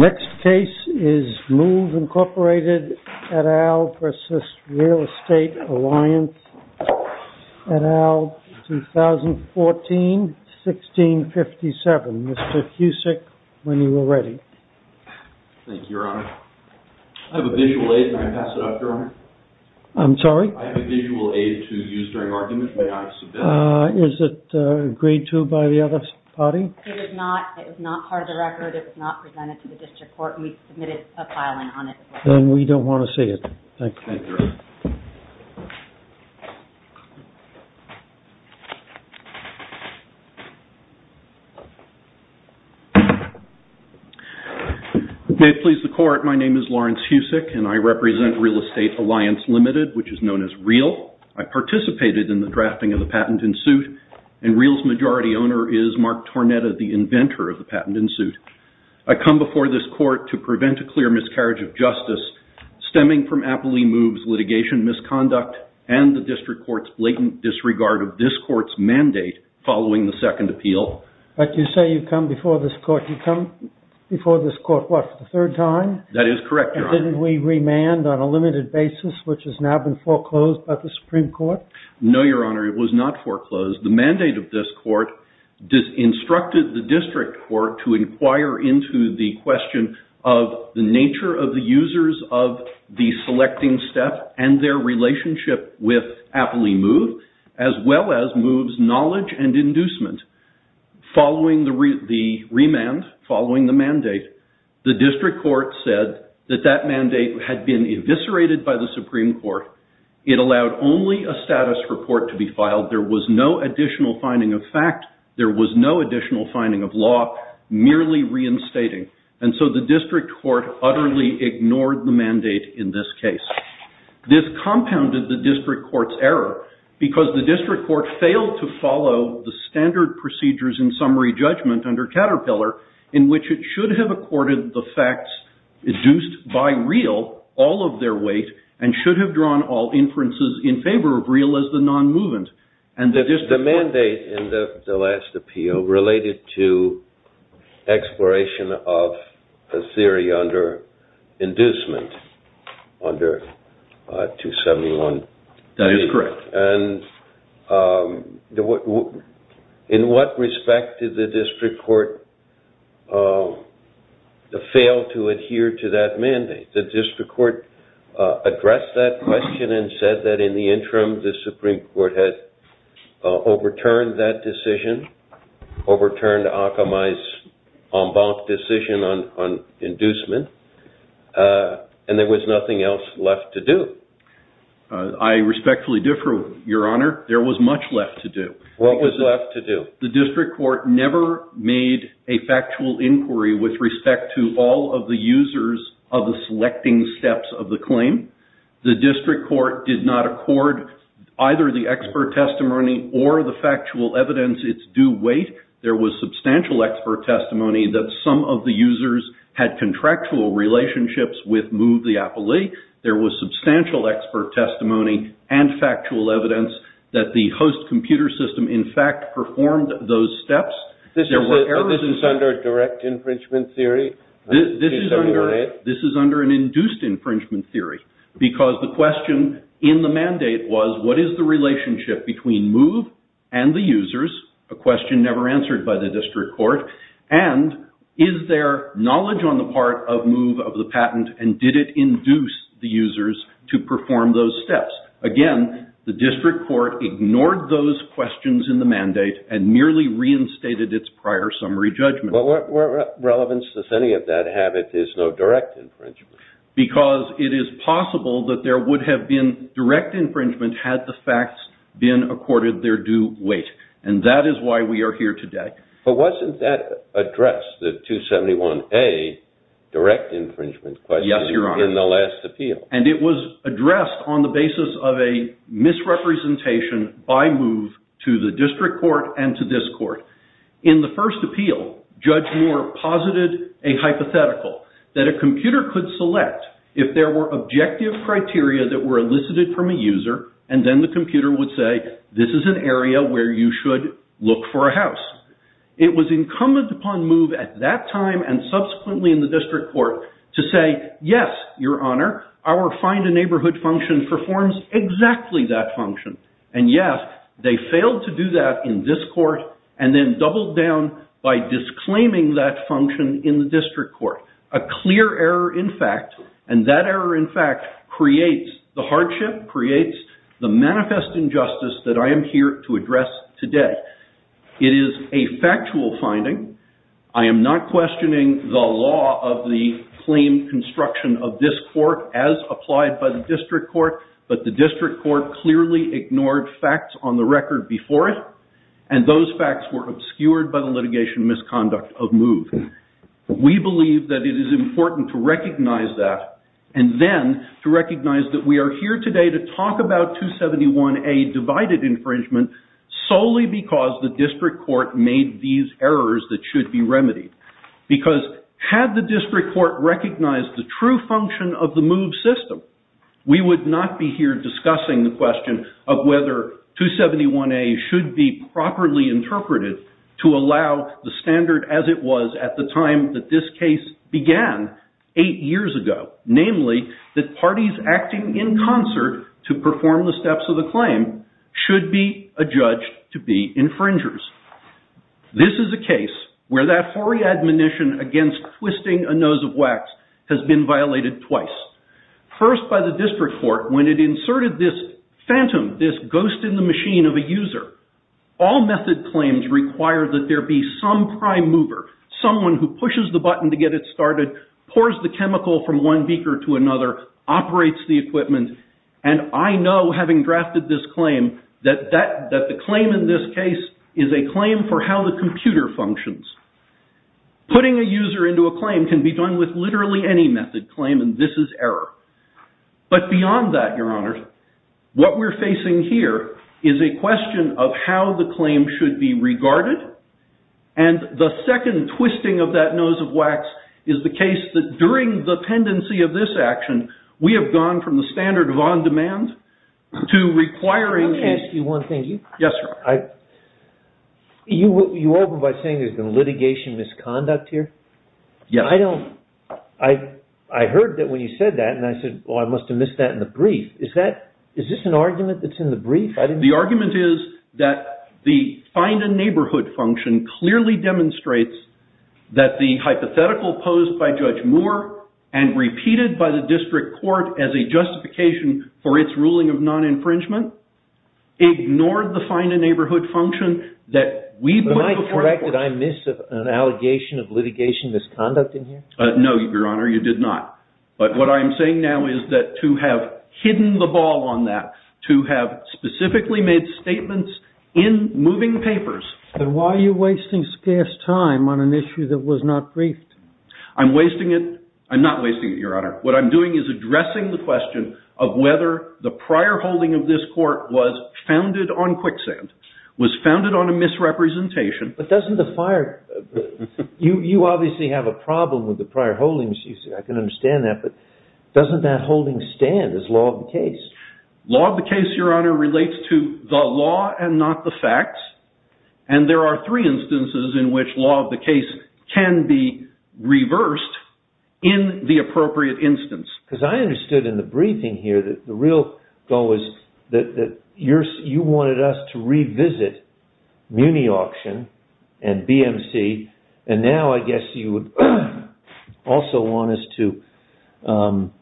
Next case is M.O.V.E. Inc. et al. v. Real Estate Alliance Ltd. Next case is M.O.V.E. Inc. et al. v. Real Estate Alliance Ltd. Next case is M.O.V.E. Inc. et al. v. Real Estate Alliance Ltd. May it please the Court, my name is Lawrence Husick and I represent Real Estate Alliance Ltd., which is known as REAL. I participated in the drafting of the patent in suit and REAL's majority owner is Mark Tornetta, the inventor of the patent in suit. I come before this Court to prevent a clear miscarriage of justice stemming from Appley Moves litigation misconduct and the District Court's blatant disregard of this Court's mandate following the second appeal. But you say you've come before this Court, you've come before this Court what, for the third time? That is correct, Your Honor. And didn't we remand on a limited basis, which has now been foreclosed by the Supreme Court? No, Your Honor, it was not foreclosed. The mandate of this Court instructed the District Court to inquire into the question of the nature of the users of the selecting step and their relationship with Appley Moves, as well as Moves' knowledge and inducement. Following the remand, following the mandate, the District Court said that that mandate had been eviscerated by the Supreme Court. It allowed only a status report to be filed. There was no additional finding of fact. There was no additional finding of law, merely reinstating. And so the District Court utterly ignored the mandate in this case. This compounded the District Court's error, because the District Court failed to follow the standard procedures in summary judgment under Caterpillar, in which it should have accorded the facts induced by real all of their weight and should have drawn all inferences in favor of real as the non-movement. The mandate in the last appeal related to exploration of a theory under inducement under 271. That is correct. And in what respect did the District Court fail to adhere to that mandate? The District Court addressed that question and said that in the interim the Supreme Court had overturned that decision, overturned Akamai's en banc decision on inducement, and there was nothing else left to do. I respectfully differ, Your Honor. There was much left to do. What was left to do? The District Court never made a factual inquiry with respect to all of the users of the selecting steps of the claim. The District Court did not accord either the expert testimony or the factual evidence its due weight. There was substantial expert testimony that some of the users had contractual relationships with Move! the appellee. There was substantial expert testimony and factual evidence that the host computer system in fact performed those steps. This is under a direct infringement theory? This is under an induced infringement theory, because the question in the mandate was what is the relationship between Move! and the users? A question never answered by the District Court. And is there knowledge on the part of Move! of the patent and did it induce the users to perform those steps? Again, the District Court ignored those questions in the mandate and merely reinstated its prior summary judgment. What relevance does any of that have if there is no direct infringement? Because it is possible that there would have been direct infringement had the facts been accorded their due weight. And that is why we are here today. But wasn't that addressed, the 271A direct infringement question in the last appeal? And it was addressed on the basis of a misrepresentation by Move! to the District Court and to this court. In the first appeal, Judge Moore posited a hypothetical that a computer could select if there were objective criteria that were elicited from a user and then the computer would say, this is an area where you should look for a house. It was incumbent upon Move! at that time and subsequently in the District Court to say, yes, your honor, our find a neighborhood function performs exactly that function. And yes, they failed to do that in this court and then doubled down by disclaiming that function in the District Court. A clear error in fact, and that error in fact creates the hardship, creates the manifest injustice that I am here to address today. It is a factual finding. I am not questioning the law of the claim construction of this court as applied by the District Court. But the District Court clearly ignored facts on the record before it. And those facts were obscured by the litigation misconduct of Move! We believe that it is important to recognize that and then to recognize that we are here today to talk about 271A divided infringement solely because the District Court made these errors that should be remedied. Because had the District Court recognized the true function of the Move! system, we would not be here discussing the question of whether 271A should be properly interpreted to allow the standard as it was at the time that this case began eight years ago. Namely, that parties acting in concert to perform the steps of the claim should be adjudged to be infringers. This is a case where that hoary admonition against twisting a nose of wax has been violated twice. First by the District Court when it inserted this phantom, this ghost in the machine of a user. All method claims require that there be some prime mover, someone who pushes the button to get it started, pours the chemical from one beaker to another, operates the equipment. And I know, having drafted this claim, that the claim in this case is a claim for how the computer functions. Putting a user into a claim can be done with literally any method claim, and this is error. But beyond that, Your Honor, what we're facing here is a question of how the claim should be regarded. And the second twisting of that nose of wax is the case that during the pendency of this action, we have gone from the standard of on-demand to requiring... Yes, Your Honor. You open by saying there's been litigation misconduct here? Yes. I heard that when you said that, and I said, well, I must have missed that in the brief. Is this an argument that's in the brief? The argument is that the find a neighborhood function clearly demonstrates that the hypothetical posed by Judge Moore and repeated by the district court as a justification for its ruling of non-infringement ignored the find a neighborhood function that we... Am I correct that I missed an allegation of litigation misconduct in here? No, Your Honor, you did not. But what I am saying now is that to have hidden the ball on that, to have specifically made statements in moving papers... Then why are you wasting scarce time on an issue that was not briefed? I'm wasting it. I'm not wasting it, Your Honor. What I'm doing is addressing the question of whether the prior holding of this court was founded on quicksand, was founded on a misrepresentation... But doesn't the fire... You obviously have a problem with the prior holdings. I can understand that, but doesn't that holding stand as law of the case? Law of the case, Your Honor, relates to the law and not the facts, and there are three instances in which law of the case can be reversed in the appropriate instance. Because I understood in the briefing here that the real goal is that you wanted us to revisit Muni Auction and BMC, and now I guess you would also want us to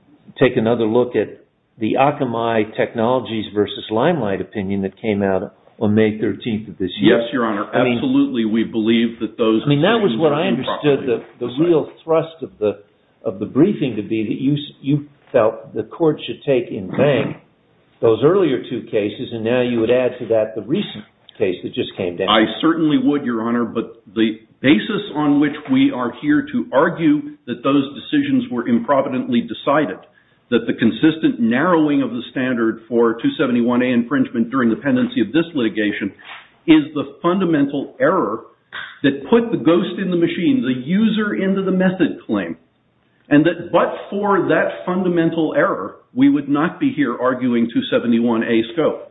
take another look at the Akamai Technologies v. Limelight opinion that came out on May 13th of this year. Yes, Your Honor. Absolutely, we believe that those... I mean, that was what I understood the real thrust of the briefing to be, that you felt the court should take in vain those earlier two cases, and now you would add to that the recent case that just came down. I certainly would, Your Honor, but the basis on which we are here to argue that those decisions were improvidently decided, that the consistent narrowing of the standard for 271A infringement during the pendency of this litigation is the fundamental error that put the ghost in the machine, the user into the method claim, and that but for that fundamental error, we would not be here arguing 271A scope.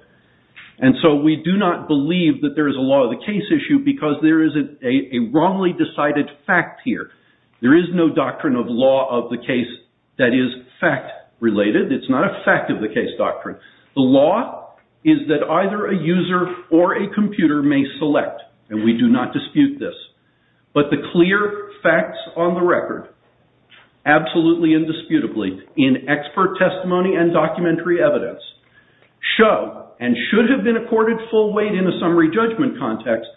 And so we do not believe that there is a law of the case issue because there is a wrongly decided fact here. There is no doctrine of law of the case that is fact-related. It's not a fact-of-the-case doctrine. The law is that either a user or a computer may select, and we do not dispute this. But the clear facts on the record, absolutely indisputably, in expert testimony and documentary evidence, show, and should have been accorded full weight in a summary judgment context,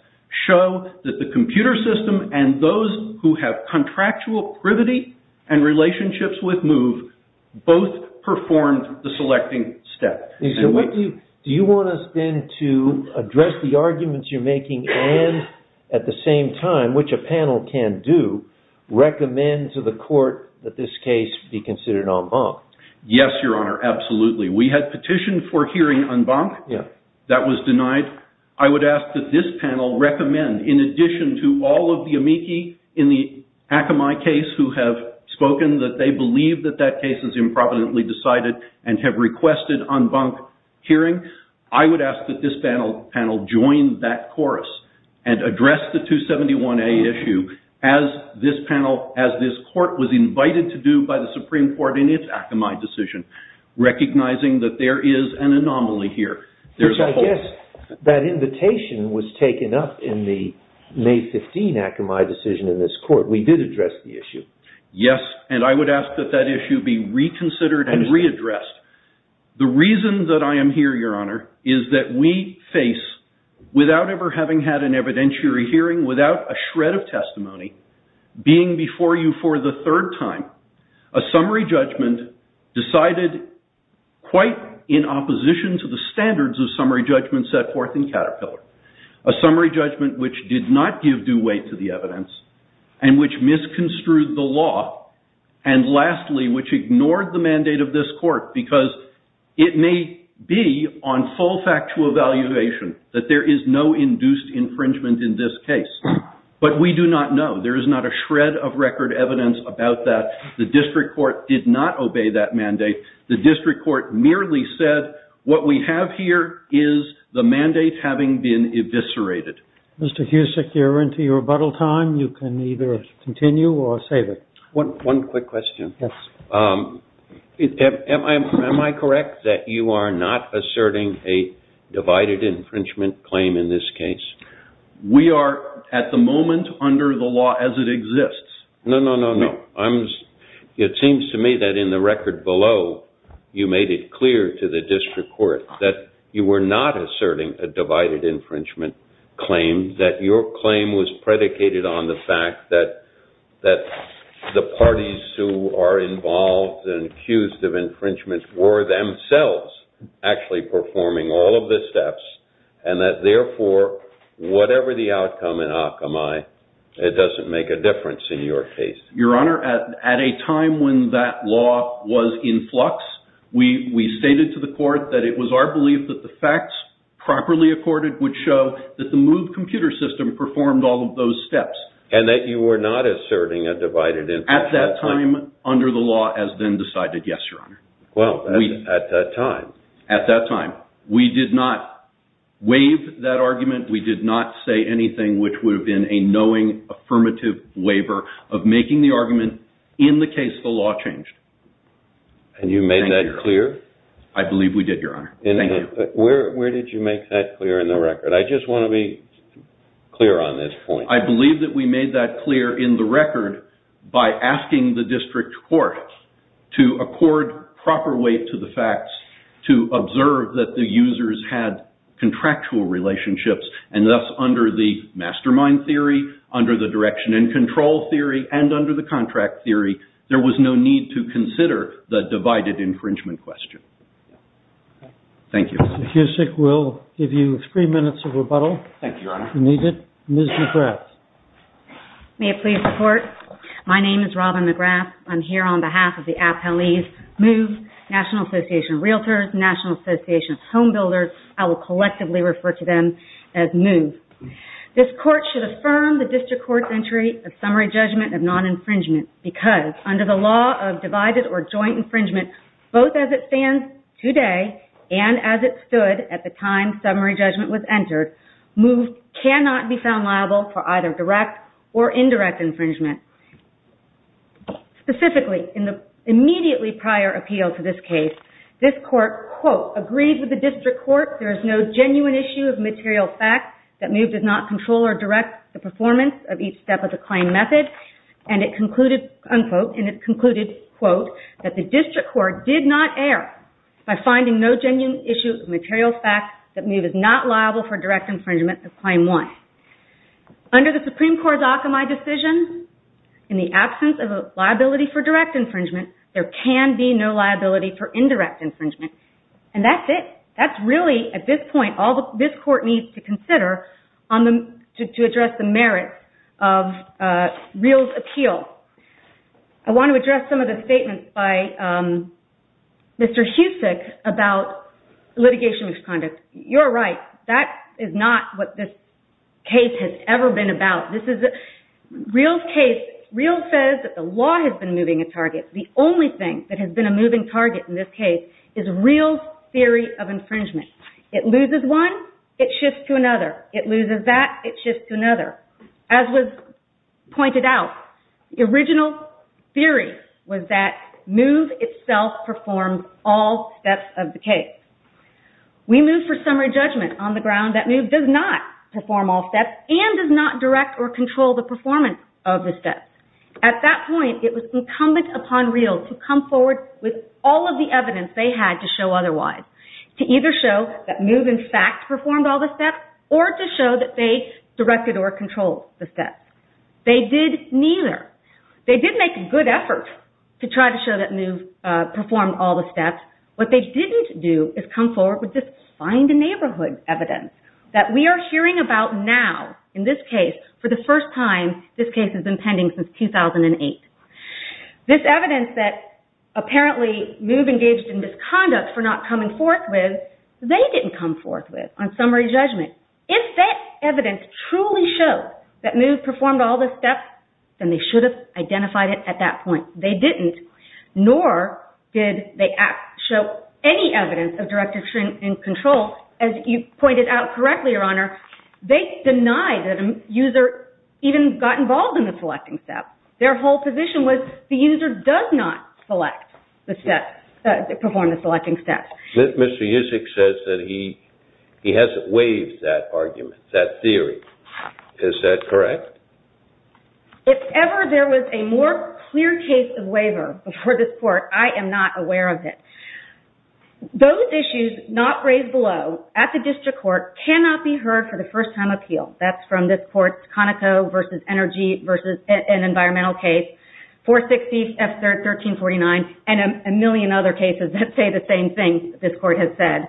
show that the computer system and those who have contractual privity and relationships with MOVE both performed the selecting step. Do you want us then to address the arguments you're making and, at the same time, which a panel can do, recommend to the court that this case be considered en banc? Yes, Your Honor, absolutely. We had petitioned for hearing en banc. That was denied. I would ask that this panel recommend, in addition to all of the amici in the Akamai case who have spoken that they believe that that case is improperly decided and have requested en banc hearing, I would ask that this panel join that chorus and address the 271A issue as this panel, as this court was invited to do by the Supreme Court in its Akamai decision, recognizing that there is an anomaly here. I guess that invitation was taken up in the May 15 Akamai decision in this court. We did address the issue. Yes, and I would ask that that issue be reconsidered and readdressed. The reason that I am here, Your Honor, is that we face, without ever having had an evidentiary hearing, without a shred of testimony, being before you for the third time, a summary judgment decided quite in opposition to the standards of summary judgments set forth in Caterpillar, a summary judgment which did not give due weight to the evidence and which misconstrued the law and, lastly, which ignored the mandate of this court because it may be on full factual evaluation that there is no induced infringement in this case, but we do not know. There is not a shred of record evidence about that. The district court did not obey that mandate. The district court merely said what we have here is the mandate having been eviscerated. Mr. Husek, you're into your rebuttal time. You can either continue or save it. One quick question. Yes. Am I correct that you are not asserting a divided infringement claim in this case? We are, at the moment, under the law as it exists. No, no, no, no. It seems to me that in the record below you made it clear to the district court that you were not asserting a divided infringement claim, that your claim was predicated on the fact that the parties who are involved and accused of infringement were themselves actually performing all of the steps and that, therefore, whatever the outcome in Akamai, it doesn't make a difference in your case. Your Honor, at a time when that law was in flux, we stated to the court that it was our belief that the facts properly accorded would show that the MOVE computer system performed all of those steps. And that you were not asserting a divided infringement claim? At that time, under the law, as then decided, yes, Your Honor. Well, at that time. At that time. We did not waive that argument. We did not say anything which would have been a knowing, affirmative waiver of making the argument in the case the law changed. And you made that clear? I believe we did, Your Honor. Thank you. Where did you make that clear in the record? I just want to be clear on this point. I believe that we made that clear in the record by asking the district court to accord proper weight to the facts, to observe that the users had contractual relationships, and thus under the mastermind theory, under the direction and control theory, and under the contract theory, there was no need to consider the divided infringement question. Thank you. Mr. Cusick, we'll give you three minutes of rebuttal. Thank you, Your Honor. If you need it, Ms. McGrath. May it please the Court? My name is Robin McGrath. I'm here on behalf of the appellees, MOVE, National Association of Realtors, National Association of Home Builders. I will collectively refer to them as MOVE. This court should affirm the district court's entry of summary judgment of non-infringement because under the law of divided or joint infringement, both as it stands today and as it stood at the time summary judgment was entered, MOVE cannot be found liable for either direct or indirect infringement. Specifically, in the immediately prior appeal to this case, this court, quote, agreed with the district court there is no genuine issue of material fact that MOVE does not control or direct the performance of each step of the claim method, and it concluded, unquote, and it concluded, quote, that the district court did not err by finding no genuine issue of material fact that MOVE is not liable for direct infringement of claim one. Under the Supreme Court's Akamai decision, in the absence of a liability for direct infringement, there can be no liability for indirect infringement. And that's it. That's really, at this point, all this court needs to consider to address the merits of REAL's appeal. I want to address some of the statements by Mr. Husek about litigation misconduct. You're right. That is not what this case has ever been about. REAL says that the law has been moving a target. The only thing that has been a moving target in this case is REAL's theory of infringement. It loses one, it shifts to another. It loses that, it shifts to another. As was pointed out, the original theory was that MOVE itself performed all steps of the case. We move for summary judgment on the ground that MOVE does not perform all steps and does not direct or control the performance of the steps. At that point, it was incumbent upon REAL to come forward with all of the evidence they had to show otherwise, to either show that MOVE in fact performed all the steps or to show that they directed or controlled the steps. They did neither. They did make a good effort to try to show that MOVE performed all the steps. What they didn't do is come forward with this find-a-neighborhood evidence that we are hearing about now in this case for the first time. This case has been pending since 2008. This evidence that apparently MOVE engaged in misconduct for not coming forth with, they didn't come forth with on summary judgment. If that evidence truly shows that MOVE performed all the steps, then they should have identified it at that point. They didn't, nor did they show any evidence of direct or control. As you pointed out correctly, Your Honor, they denied that a user even got involved in the selecting steps. Their whole position was the user does not perform the selecting steps. Mr. Usick says that he hasn't waived that argument, that theory. Is that correct? If ever there was a more clear case of waiver before this Court, I am not aware of it. Those issues not raised below at the District Court cannot be heard for the first time appeal. That's from this Court's Conoco versus Energy versus an environmental case, 460 F1349, and a million other cases that say the same thing this Court has said.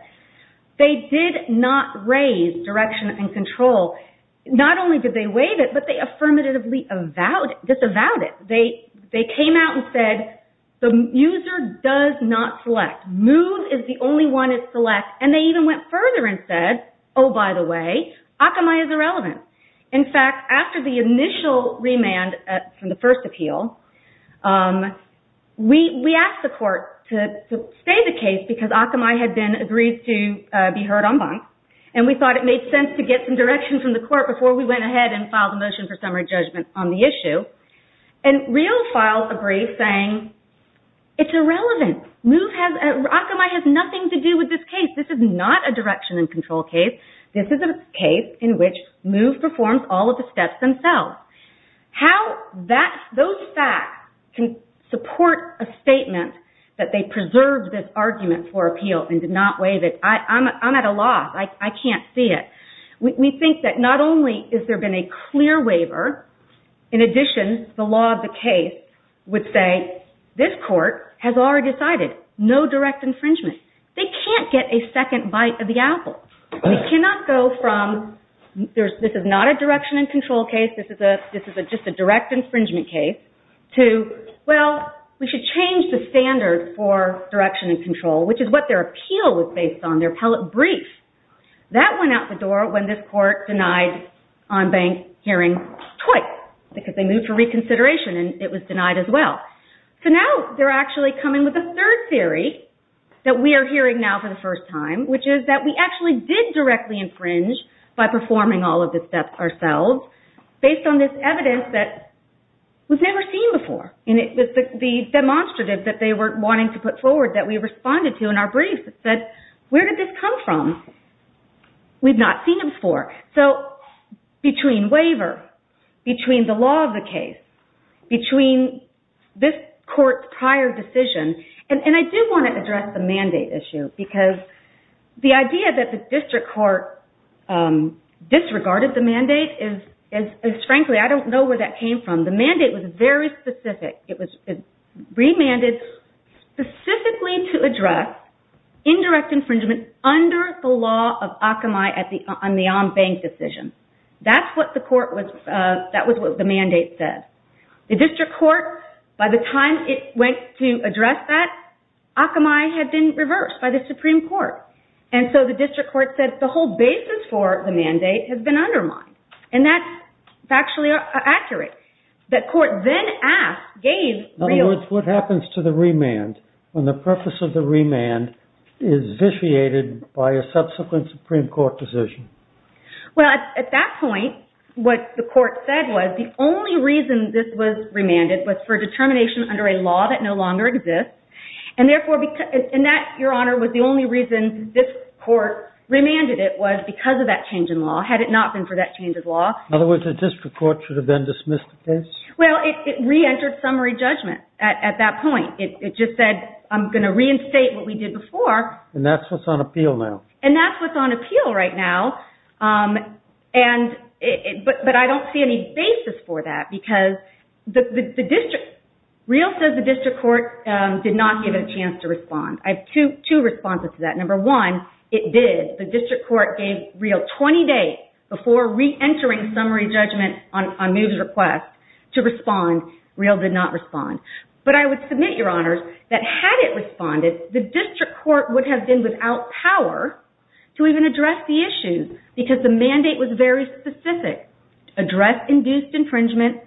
They did not raise direction and control. Not only did they waive it, but they affirmatively disavowed it. They came out and said the user does not select. MOVE is the only one that selects, and they even went further and said, oh, by the way, Akamai is irrelevant. In fact, after the initial remand from the first appeal, we asked the Court to stay the case because Akamai had been agreed to be heard en banc, and we thought it made sense to get some direction from the Court before we went ahead and filed a motion for summary judgment on the issue. And real files agree, saying it's irrelevant. Akamai has nothing to do with this case. This is not a direction and control case. This is a case in which MOVE performs all of the steps themselves. How those facts can support a statement that they preserved this argument for appeal and did not waive it, I'm at a loss. I can't see it. We think that not only has there been a clear waiver, in addition, the law of the case would say this Court has already decided. No direct infringement. They can't get a second bite of the apple. They cannot go from, this is not a direction and control case, this is just a direct infringement case, to, well, we should change the standard for direction and control, which is what their appeal was based on, their appellate brief. That went out the door when this Court denied en banc hearing twice because they moved for reconsideration and it was denied as well. So now they're actually coming with a third theory that we are hearing now for the first time, which is that we actually did directly infringe by performing all of the steps ourselves based on this evidence that was never seen before. And it was the demonstrative that they were wanting to put forward that we responded to in our brief that said, where did this come from? We've not seen it before. So, between waiver, between the law of the case, between this Court's prior decision, and I do want to address the mandate issue, because the idea that the district court disregarded the mandate is, frankly, I don't know where that came from. The mandate was very specific. It was remanded specifically to address indirect infringement under the law of Akamai on the en banc decision. That's what the mandate said. The district court, by the time it went to address that, Akamai had been reversed by the Supreme Court. And so the district court said the whole basis for the mandate had been undermined. And that's factually accurate. The court then asked, gave real... In other words, what happens to the remand when the purpose of the remand is vitiated by a subsequent Supreme Court decision? Well, at that point, what the court said was the only reason this was remanded was for determination under a law that no longer exists, and that, Your Honor, was the only reason this court remanded it was because of that change in law, had it not been for that change in law. In other words, the district court should have then dismissed the case? Well, it reentered summary judgment at that point. It just said, I'm going to reinstate what we did before. And that's what's on appeal now. And that's what's on appeal right now. But I don't see any basis for that, because the district... Real says the district court did not give it a chance to respond. I have two responses to that. Number one, it did. The district court gave Real 20 days before reentering summary judgment on moves request to respond. Real did not respond. But I would submit, Your Honors, that had it responded, the district court would have been without power to even address the issue, because the mandate was very specific, address induced infringement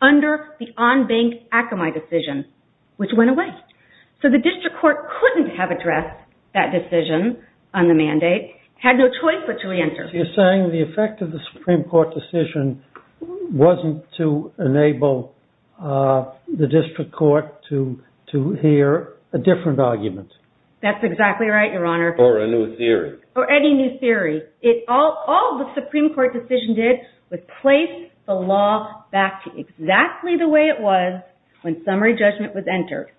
under the on-bank Akamai decision, which went away. So the district court couldn't have addressed that decision on the mandate, had no choice but to reenter. So you're saying the effect of the Supreme Court decision wasn't to enable the district court to hear a different argument. That's exactly right, Your Honor. Or a new theory. Or any new theory. All the Supreme Court decision did was place the law back to exactly the way it was when summary judgment was entered.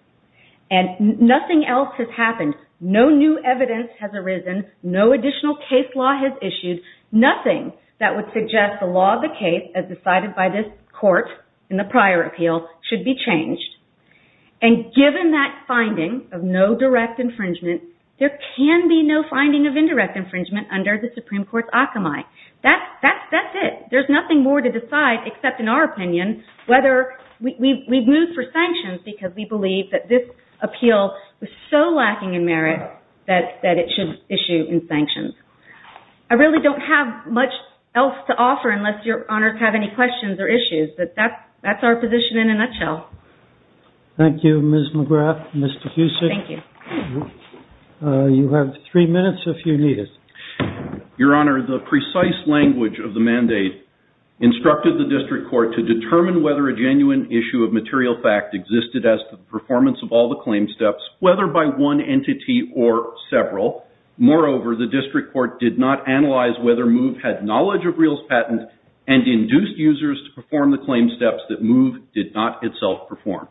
No new evidence has arisen. No additional case law has issued. Nothing that would suggest the law of the case, as decided by this court in the prior appeal, should be changed. And given that finding of no direct infringement, there can be no finding of indirect infringement under the Supreme Court's Akamai. That's it. There's nothing more to decide except, in our opinion, whether we've moved for sanctions because we believe that this appeal is so lacking in merit that it should issue in sanctions. I really don't have much else to offer unless Your Honor has any questions or issues. But that's our position in a nutshell. Thank you, Ms. McGrath. Mr. Fusek. Thank you. You have three minutes if you need it. Your Honor, the precise language of the mandate instructed the district court to determine whether a genuine issue of material fact existed as to the performance of all the claim steps, whether by one entity or several. Moreover, the district court did not analyze whether MOVE had knowledge of Real's patent and induced users to perform the claim steps that MOVE did not itself perform.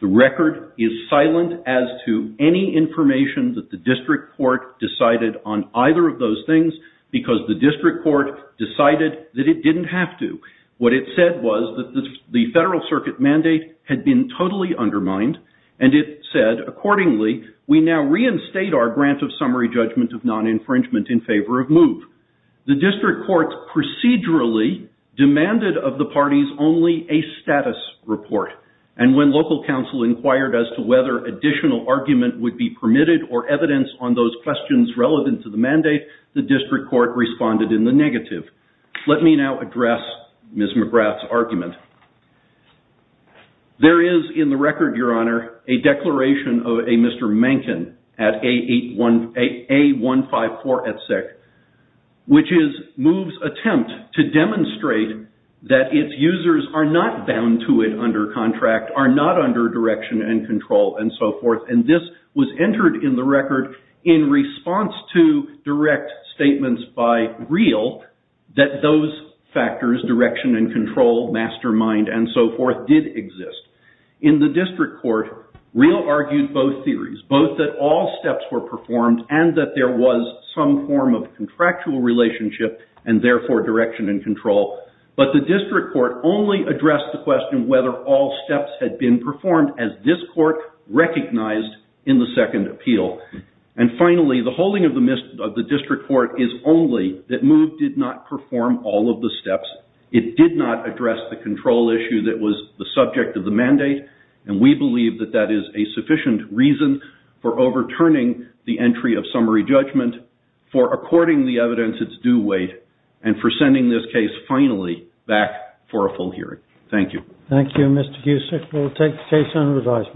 The record is silent as to any information that the district court decided on either of those things because the district court decided that it didn't have to. What it said was that the Federal Circuit mandate had been totally undermined, and it said, accordingly, we now reinstate our grant of summary judgment of non-infringement in favor of MOVE. The district court procedurally demanded of the parties only a status report, and when local counsel inquired as to whether additional argument would be permitted or evidence on those questions relevant to the mandate, the district court responded in the negative. Let me now address Ms. McGrath's argument. There is in the record, Your Honor, a declaration of a Mr. Mankin at A154 Etsec, which is MOVE's attempt to demonstrate that its users are not bound to it under contract, are not under direction and control, and so forth, and this was entered in the record in response to direct statements by REAL that those factors, direction and control, mastermind, and so forth, did exist. In the district court, REAL argued both theories, both that all steps were performed and that there was some form of contractual relationship and therefore direction and control, but the district court only addressed the question whether all steps had been performed as this court recognized in the second appeal. And finally, the holding of the district court is only that MOVE did not perform all of the steps. It did not address the control issue that was the subject of the mandate, and we believe that that is a sufficient reason for overturning the entry of summary judgment, for according the evidence its due weight, and for sending this case finally back for a full hearing. Thank you. Thank you, Mr. Gusek. We will take the case under advisement.